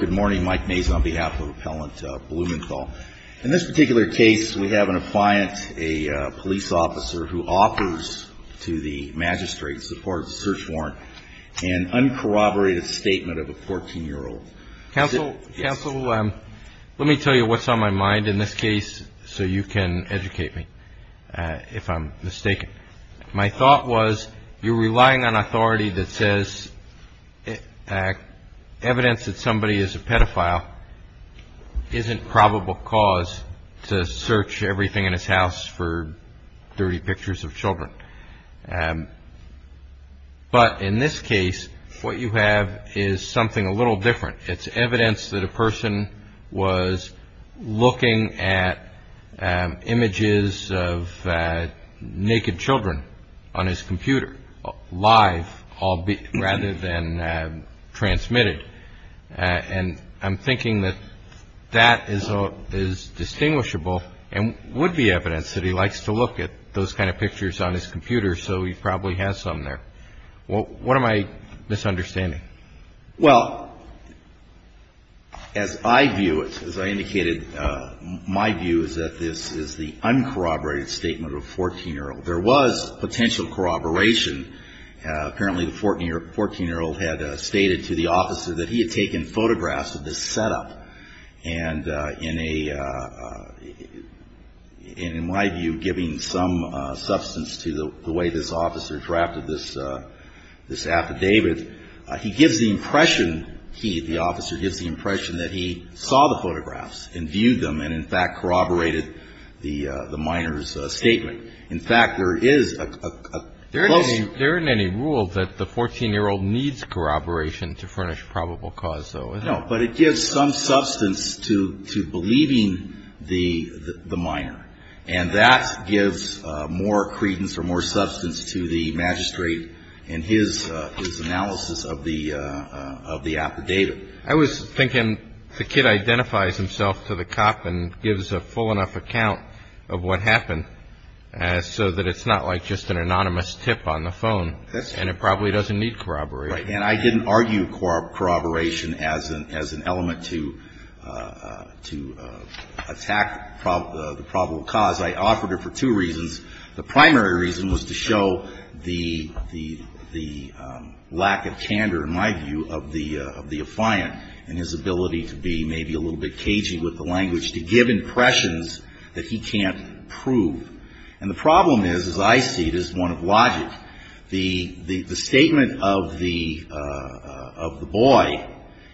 Good morning, Mike Mays on behalf of Appellant Blumenthal. In this particular case, we have an appliant, a police officer, who offers to the magistrate, as part of the search warrant, an uncorroborated statement of a 14-year-old. Counsel, let me tell you what's on my mind in this case so you can educate me if I'm mistaken. My thought was you're relying on authority that says evidence that somebody is a pedophile isn't probable cause to search everything in his house for dirty pictures of children. But in this case, what you have is something a little different. It's evidence that a person was looking at images of naked children on his computer live rather than transmitted. And I'm thinking that that is distinguishable and would be evidence that he likes to look at those kind of pictures on his computer, so he probably has some there. What am I misunderstanding? Well, as I view it, as I indicated, my view is that this is the uncorroborated statement of a 14-year-old. There was potential corroboration. Apparently, the 14-year-old had stated to the officer that he had taken photographs of this setup. And in my view, giving some substance to the way this officer drafted this affidavit, he gives the impression, he, the officer, gives the impression that he saw the photographs and viewed them and, in fact, corroborated the minor's statement. In fact, there is a close – There isn't any rule that the 14-year-old needs corroboration to furnish probable cause, though, is there? No, but it gives some substance to believing the minor. And that gives more credence or more substance to the magistrate in his analysis of the affidavit. I was thinking the kid identifies himself to the cop and gives a full enough account of what happened so that it's not like just an anonymous tip on the phone. That's true. And it probably doesn't need corroboration. Right. And I didn't argue corroboration as an element to attack the probable cause. I offered it for two reasons. The primary reason was to show the lack of candor, in my view, of the affiant and his ability to be maybe a little bit cagey with the language, to give impressions that he can't prove. And the problem is, as I see it, is one of logic. The statement of the boy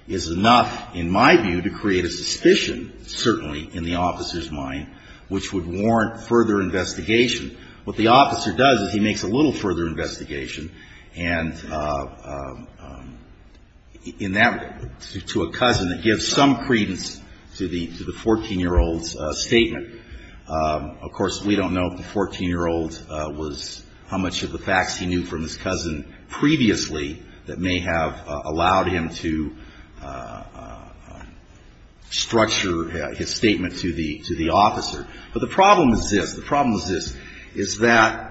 is enough, in my view, to create a suspicion, certainly in the officer's mind, which would warrant further investigation. What the officer does is he makes a little further investigation. And in that, to a cousin, it gives some credence to the 14-year-old's statement. Of course, we don't know if the 14-year-old was how much of the facts he knew from his cousin previously that may have allowed him to structure his statement to the officer. But the problem is this. The problem is this, is that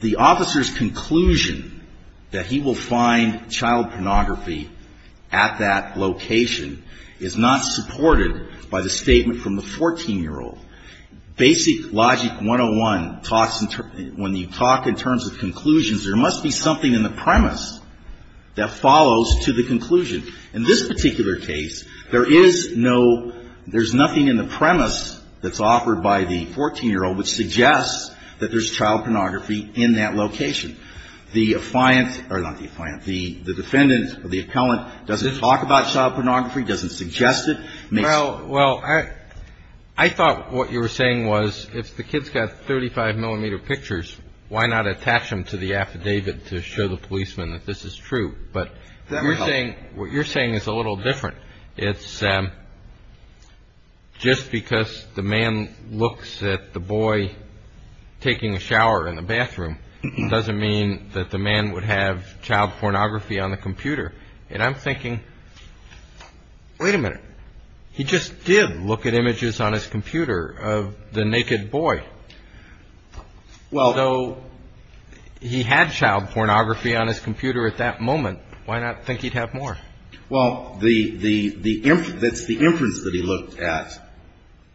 the officer's conclusion that he will find child pornography at that location is not supported by the statement from the 14-year-old. Basic logic 101 talks, when you talk in terms of conclusions, there must be something in the premise that follows to the conclusion. In this particular case, there is no, there's nothing in the premise that's offered by the 14-year-old which suggests that there's child pornography in that location. The defendant or the appellant doesn't talk about child pornography, doesn't suggest it. Well, I thought what you were saying was if the kid's got 35-millimeter pictures, why not attach them to the affidavit to show the policeman that this is true? But what you're saying is a little different. It's just because the man looks at the boy taking a shower in the bathroom, it doesn't mean that the man would have child pornography on the computer. And I'm thinking, wait a minute, he just did look at images on his computer of the naked boy. So he had child pornography on his computer at that moment. Why not think he'd have more? Well, that's the inference that he looked at,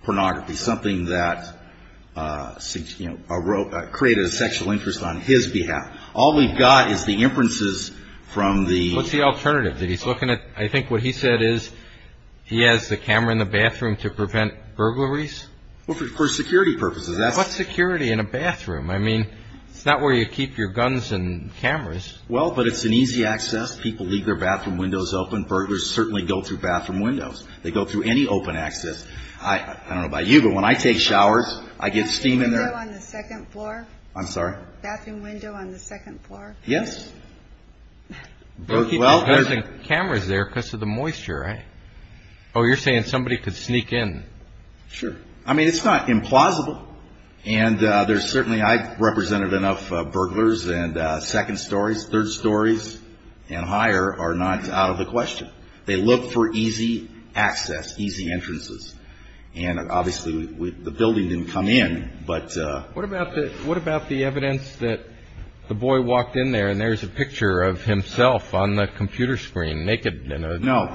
pornography, something that created a sexual interest on his behalf. All we've got is the inferences from the ---- What's the alternative? I think what he said is he has the camera in the bathroom to prevent burglaries? Well, for security purposes. What's security in a bathroom? I mean, it's not where you keep your guns and cameras. Well, but it's an easy access. People leave their bathroom windows open. Burglars certainly go through bathroom windows. They go through any open access. I don't know about you, but when I take showers, I get steam in there. Bathroom window on the second floor? I'm sorry? Bathroom window on the second floor? Yes. Well, there's cameras there because of the moisture, right? Oh, you're saying somebody could sneak in. Sure. I mean, it's not implausible, and there's certainly ---- I've represented enough burglars, and second stories, third stories, and higher are not out of the question. They look for easy access, easy entrances, and obviously the building didn't come in, but ---- What about the evidence that the boy walked in there, and there's a picture of himself on the computer screen naked in a ---- No.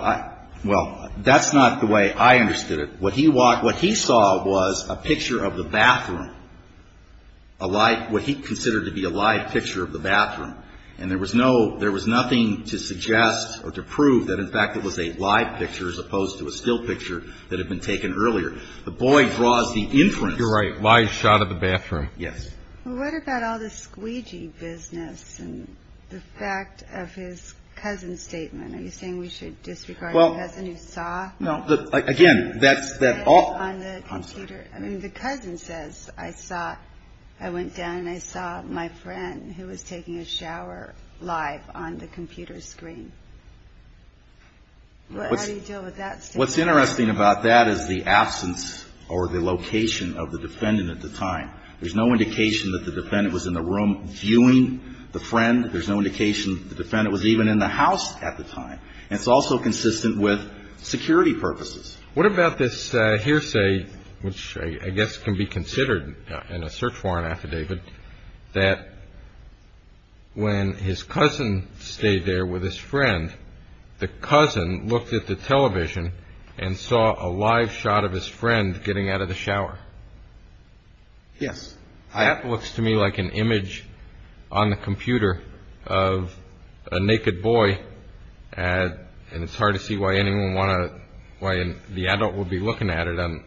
Well, that's not the way I understood it. What he walked ---- what he saw was a picture of the bathroom, a live ---- what he considered to be a live picture of the bathroom, and there was no ---- there was nothing to suggest or to prove that, in fact, it was a live picture as opposed to a still picture that had been taken earlier. The boy draws the entrance. You're right. Live shot of the bathroom. Yes. Well, what about all the squeegee business and the fact of his cousin's statement? Are you saying we should disregard the cousin who saw? No. Again, that's that all ---- On the computer. I'm sorry. I mean, the cousin says, I saw ---- I went down and I saw my friend who was taking a shower live on the computer screen. How do you deal with that statement? What's interesting about that is the absence or the location of the defendant at the time. There's no indication that the defendant was in the room viewing the friend. There's no indication the defendant was even in the house at the time. And it's also consistent with security purposes. What about this hearsay, which I guess can be considered in a search warrant affidavit, that when his cousin stayed there with his friend, the cousin looked at the television and saw a live shot of his friend getting out of the shower? Yes. That looks to me like an image on the computer of a naked boy. And it's hard to see why anyone want to ---- why the adult would be looking at it under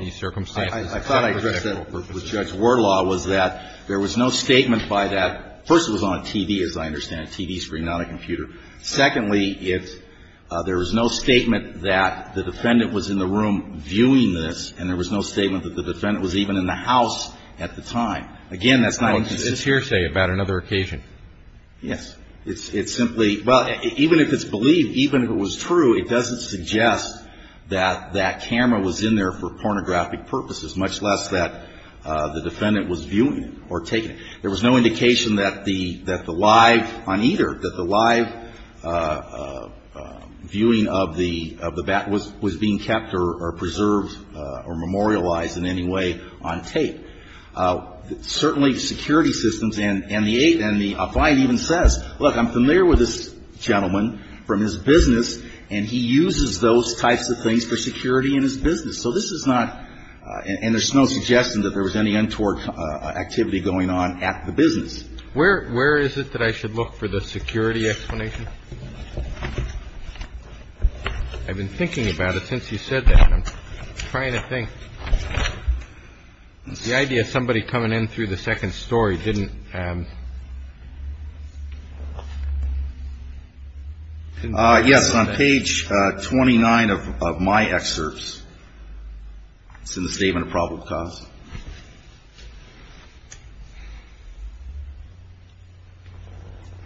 these circumstances. Well, I thought I addressed that with Judge Wardlaw was that there was no statement by that. First, it was on a TV, as I understand it, a TV screen, not a computer. Secondly, it's ---- there was no statement that the defendant was in the room viewing this and there was no statement that the defendant was even in the house at the time. Again, that's not a consistent ---- It's hearsay about another occasion. Yes. It's simply ---- well, even if it's believed, even if it was true, it doesn't suggest that that camera was in there for pornographic purposes, much less that the defendant was viewing it or taking it. There was no indication that the live on either, that the live viewing of the bat was being kept or preserved or memorialized in any way on tape. Certainly, security systems and the eight and the affine even says, look, I'm familiar with this gentleman from his business, and he uses those types of things for security in his business. So this is not ---- and there's no suggestion that there was any untoward activity going on at the business. Where is it that I should look for the security explanation? I've been thinking about it since you said that. I'm trying to think. The idea of somebody coming in through the second story didn't ---- Yes. On page 29 of my excerpts, it's in the statement of probable cause.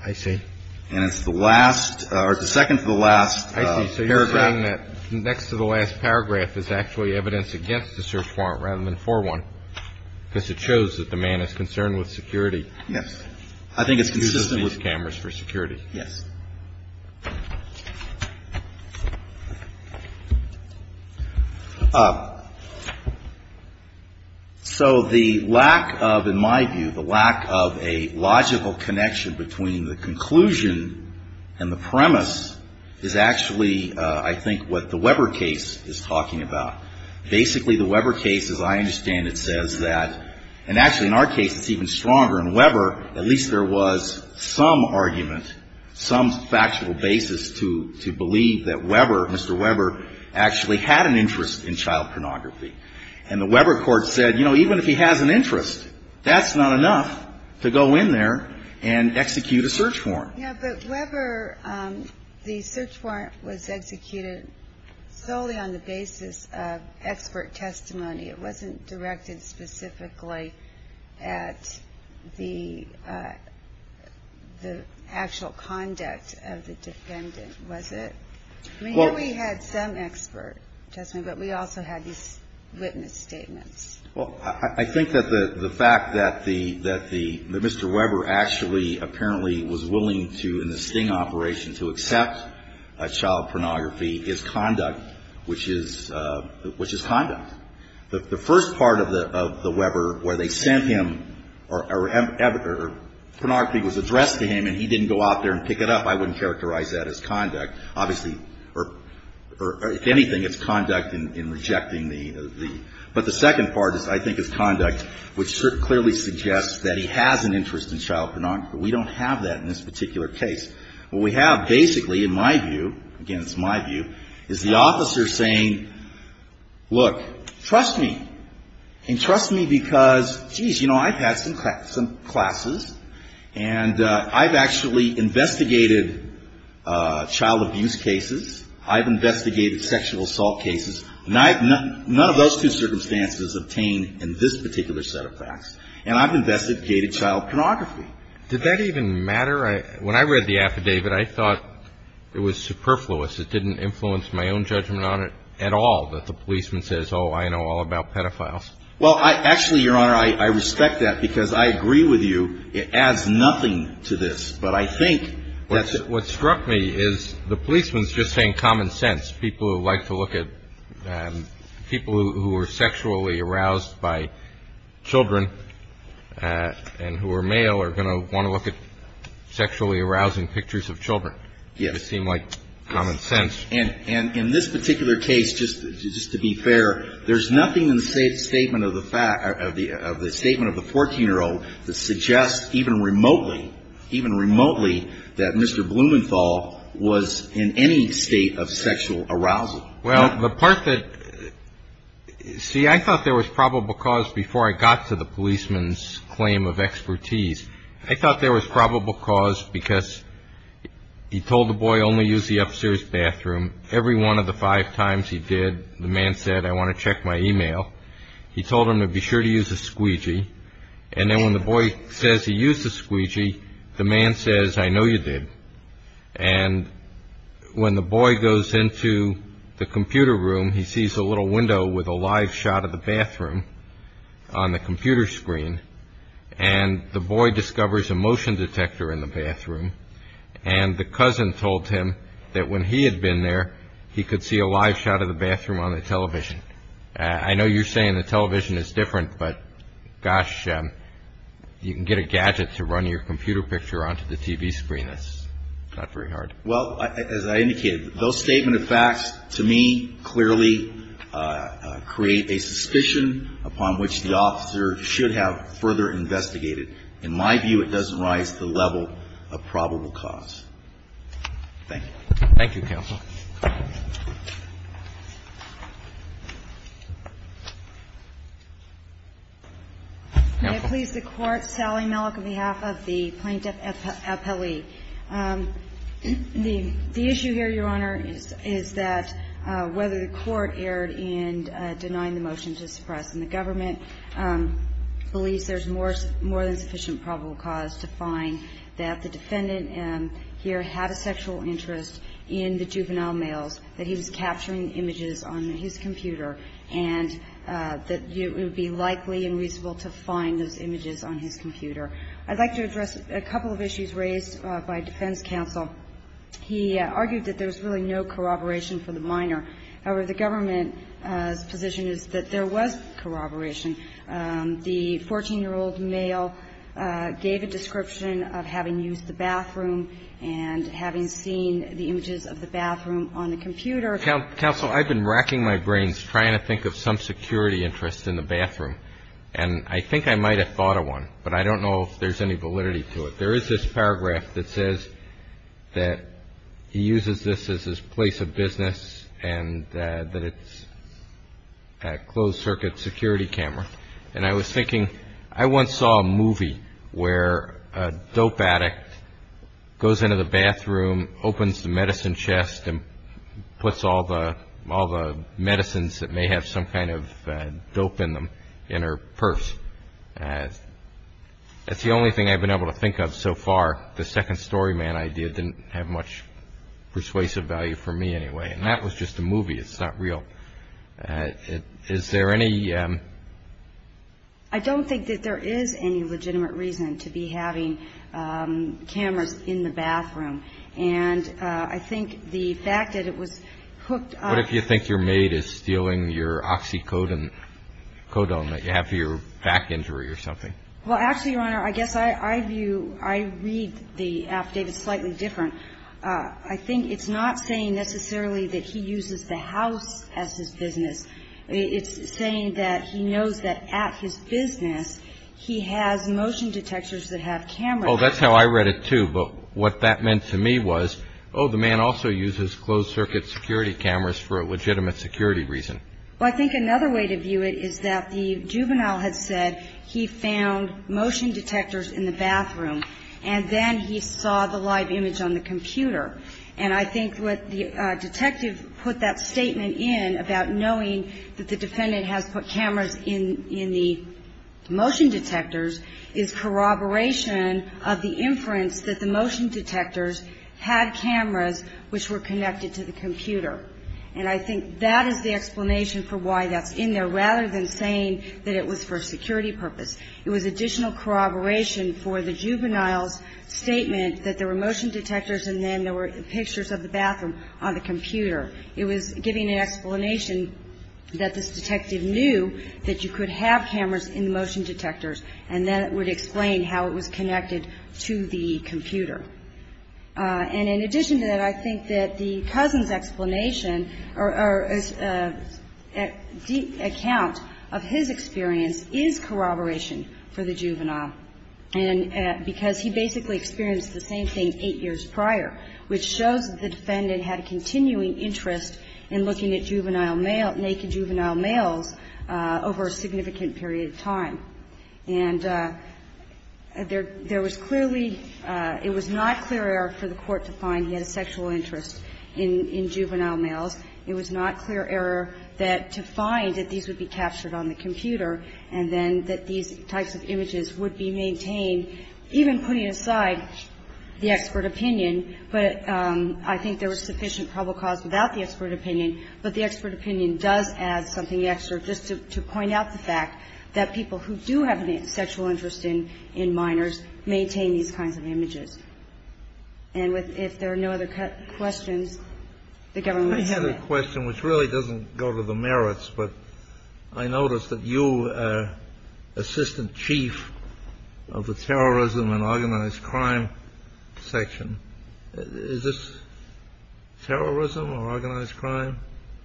I see. And it's the last or the second to the last paragraph. I see. So you're saying that next to the last paragraph is actually evidence against the search warrant rather than for one, because it shows that the man is concerned with security. Yes. I think it's consistent with cameras for security. Yes. So the lack of, in my view, the lack of a logical connection between the conclusion and the premise is actually, I think, what the Weber case is talking about. Basically, the Weber case, as I understand it, says that ---- and actually, in our case, it's even stronger. In Weber, at least there was some argument, some factual basis to believe that Weber, Mr. Weber, actually had an interest in child pornography. And the Weber court said, you know, even if he has an interest, that's not enough to go in there and execute a search warrant. Yes, but Weber, the search warrant was executed solely on the basis of expert testimony. It wasn't directed specifically at the actual conduct of the defendant, was it? I mean, here we had some expert testimony, but we also had these witness statements. Well, I think that the fact that the Mr. Weber actually apparently was willing to, in the Sting operation, to accept child pornography is conduct, which is conduct. The first part of the Weber where they sent him or pornography was addressed to him and he didn't go out there and pick it up, I wouldn't characterize that as conduct. Obviously, or if anything, it's conduct in rejecting the ---- but the second part, I think, is conduct, which clearly suggests that he has an interest in child pornography. We don't have that in this particular case. What we have basically, in my view, again, it's my view, is the officer saying, look, trust me. And trust me because, geez, you know, I've had some classes and I've actually investigated child abuse cases. I've investigated sexual assault cases. None of those two circumstances obtained in this particular set of facts. And I've investigated child pornography. Did that even matter? When I read the affidavit, I thought it was superfluous. It didn't influence my own judgment on it at all that the policeman says, oh, I know all about pedophiles. Well, actually, Your Honor, I respect that because I agree with you. It adds nothing to this. But I think that's what struck me is the policeman is just saying common sense. People who like to look at people who are sexually aroused by children and who are male are going to want to look at sexually arousing pictures of children. It would seem like common sense. And in this particular case, just to be fair, there's nothing in the statement of the 14-year-old that suggests even remotely, that Mr. Blumenthal was in any state of sexual arousal. Well, the part that, see, I thought there was probable cause before I got to the policeman's claim of expertise. I thought there was probable cause because he told the boy only use the upstairs bathroom. Every one of the five times he did, the man said, I want to check my e-mail. He told him to be sure to use a squeegee. And then when the boy says he used the squeegee, the man says, I know you did. And when the boy goes into the computer room, he sees a little window with a live shot of the bathroom on the computer screen. And the boy discovers a motion detector in the bathroom. And the cousin told him that when he had been there, he could see a live shot of the bathroom on the television. I know you're saying the television is different, but gosh, you can get a gadget to run your computer picture onto the TV screen. That's not very hard. Well, as I indicated, those statement of facts, to me, clearly create a suspicion upon which the officer should have further investigated. In my view, it doesn't rise to the level of probable cause. Thank you. Thank you, counsel. May it please the Court. Sally Malik on behalf of the Plaintiff Appellee. The issue here, Your Honor, is that whether the Court erred in denying the motion to suppress. And the government believes there's more than sufficient probable cause to find that the defendant here had a sexual interest in the juvenile males, that he was capturing images on his computer, and that it would be likely and reasonable to find those images on his computer. I'd like to address a couple of issues raised by defense counsel. He argued that there was really no corroboration for the minor. However, the government's position is that there was corroboration. The 14-year-old male gave a description of having used the bathroom and having seen the images of the bathroom on the computer. Counsel, I've been racking my brains trying to think of some security interest in the bathroom. And I think I might have thought of one, but I don't know if there's any validity to it. There is this paragraph that says that he uses this as his place of business and that it's a closed-circuit security camera. And I was thinking, I once saw a movie where a dope addict goes into the bathroom, opens the medicine chest, and puts all the medicines that may have some kind of dope in them in her purse. That's the only thing I've been able to think of so far. The second story man idea didn't have much persuasive value for me anyway. And that was just a movie. It's not real. Is there any ---- I don't think that there is any legitimate reason to be having cameras in the bathroom. And I think the fact that it was hooked on ---- What if you think your maid is stealing your oxycodone that you have for your back injury or something? Well, actually, Your Honor, I guess I read the affidavit slightly different. I think it's not saying necessarily that he uses the house as his business. It's saying that he knows that at his business he has motion detectors that have cameras. Oh, that's how I read it, too. But what that meant to me was, oh, the man also uses closed-circuit security cameras for a legitimate security reason. Well, I think another way to view it is that the juvenile had said he found motion detectors in the bathroom and then he saw the live image on the computer. And I think what the detective put that statement in about knowing that the defendant has put cameras in the motion detectors is corroboration of the inference that the motion detectors had cameras which were connected to the computer. And I think that is the explanation for why that's in there, rather than saying that it was for a security purpose. It was additional corroboration for the juvenile's statement that there were motion detectors and then there were pictures of the bathroom on the computer. It was giving an explanation that this detective knew that you could have cameras in the motion detectors and then it would explain how it was connected to the computer. And in addition to that, I think that the cousin's explanation or account of his experience is corroboration for the juvenile. And because he basically experienced the same thing eight years prior, which shows the defendant had a continuing interest in looking at juvenile male, naked juvenile males over a significant period of time. And there was clearly – it was not clear error for the Court to find he had a sexual interest in juvenile males. It was not clear error that to find that these would be captured on the computer and then that these types of images would be maintained, even putting aside the expert opinion. But I think there was sufficient probable cause without the expert opinion. But the expert opinion does add something extra just to point out the fact that people who do have a sexual interest in minors maintain these kinds of images. And if there are no other questions, the government will submit. Kennedy. I have a question which really doesn't go to the merits, but I noticed that you, Assistant Chief of the Terrorism and Organized Crime Section, is this terrorism or organized crime?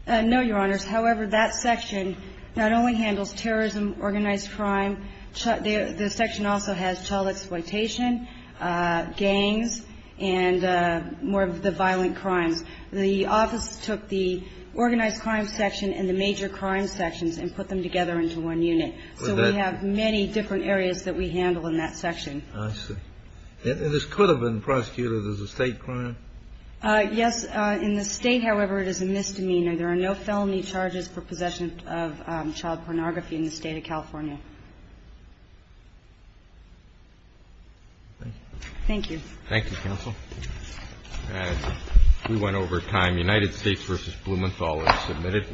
No, Your Honors. However, that section not only handles terrorism, organized crime. The section also has child exploitation, gangs, and more of the violent crimes. The office took the organized crime section and the major crime sections and put them together into one unit. So we have many different areas that we handle in that section. I see. And this could have been prosecuted as a State crime? Yes. In the State, however, it is a misdemeanor. There are no felony charges for possession of child pornography in the State of California. Thank you. Thank you, Counsel. We went over time. United States v. Blumenthal is submitted.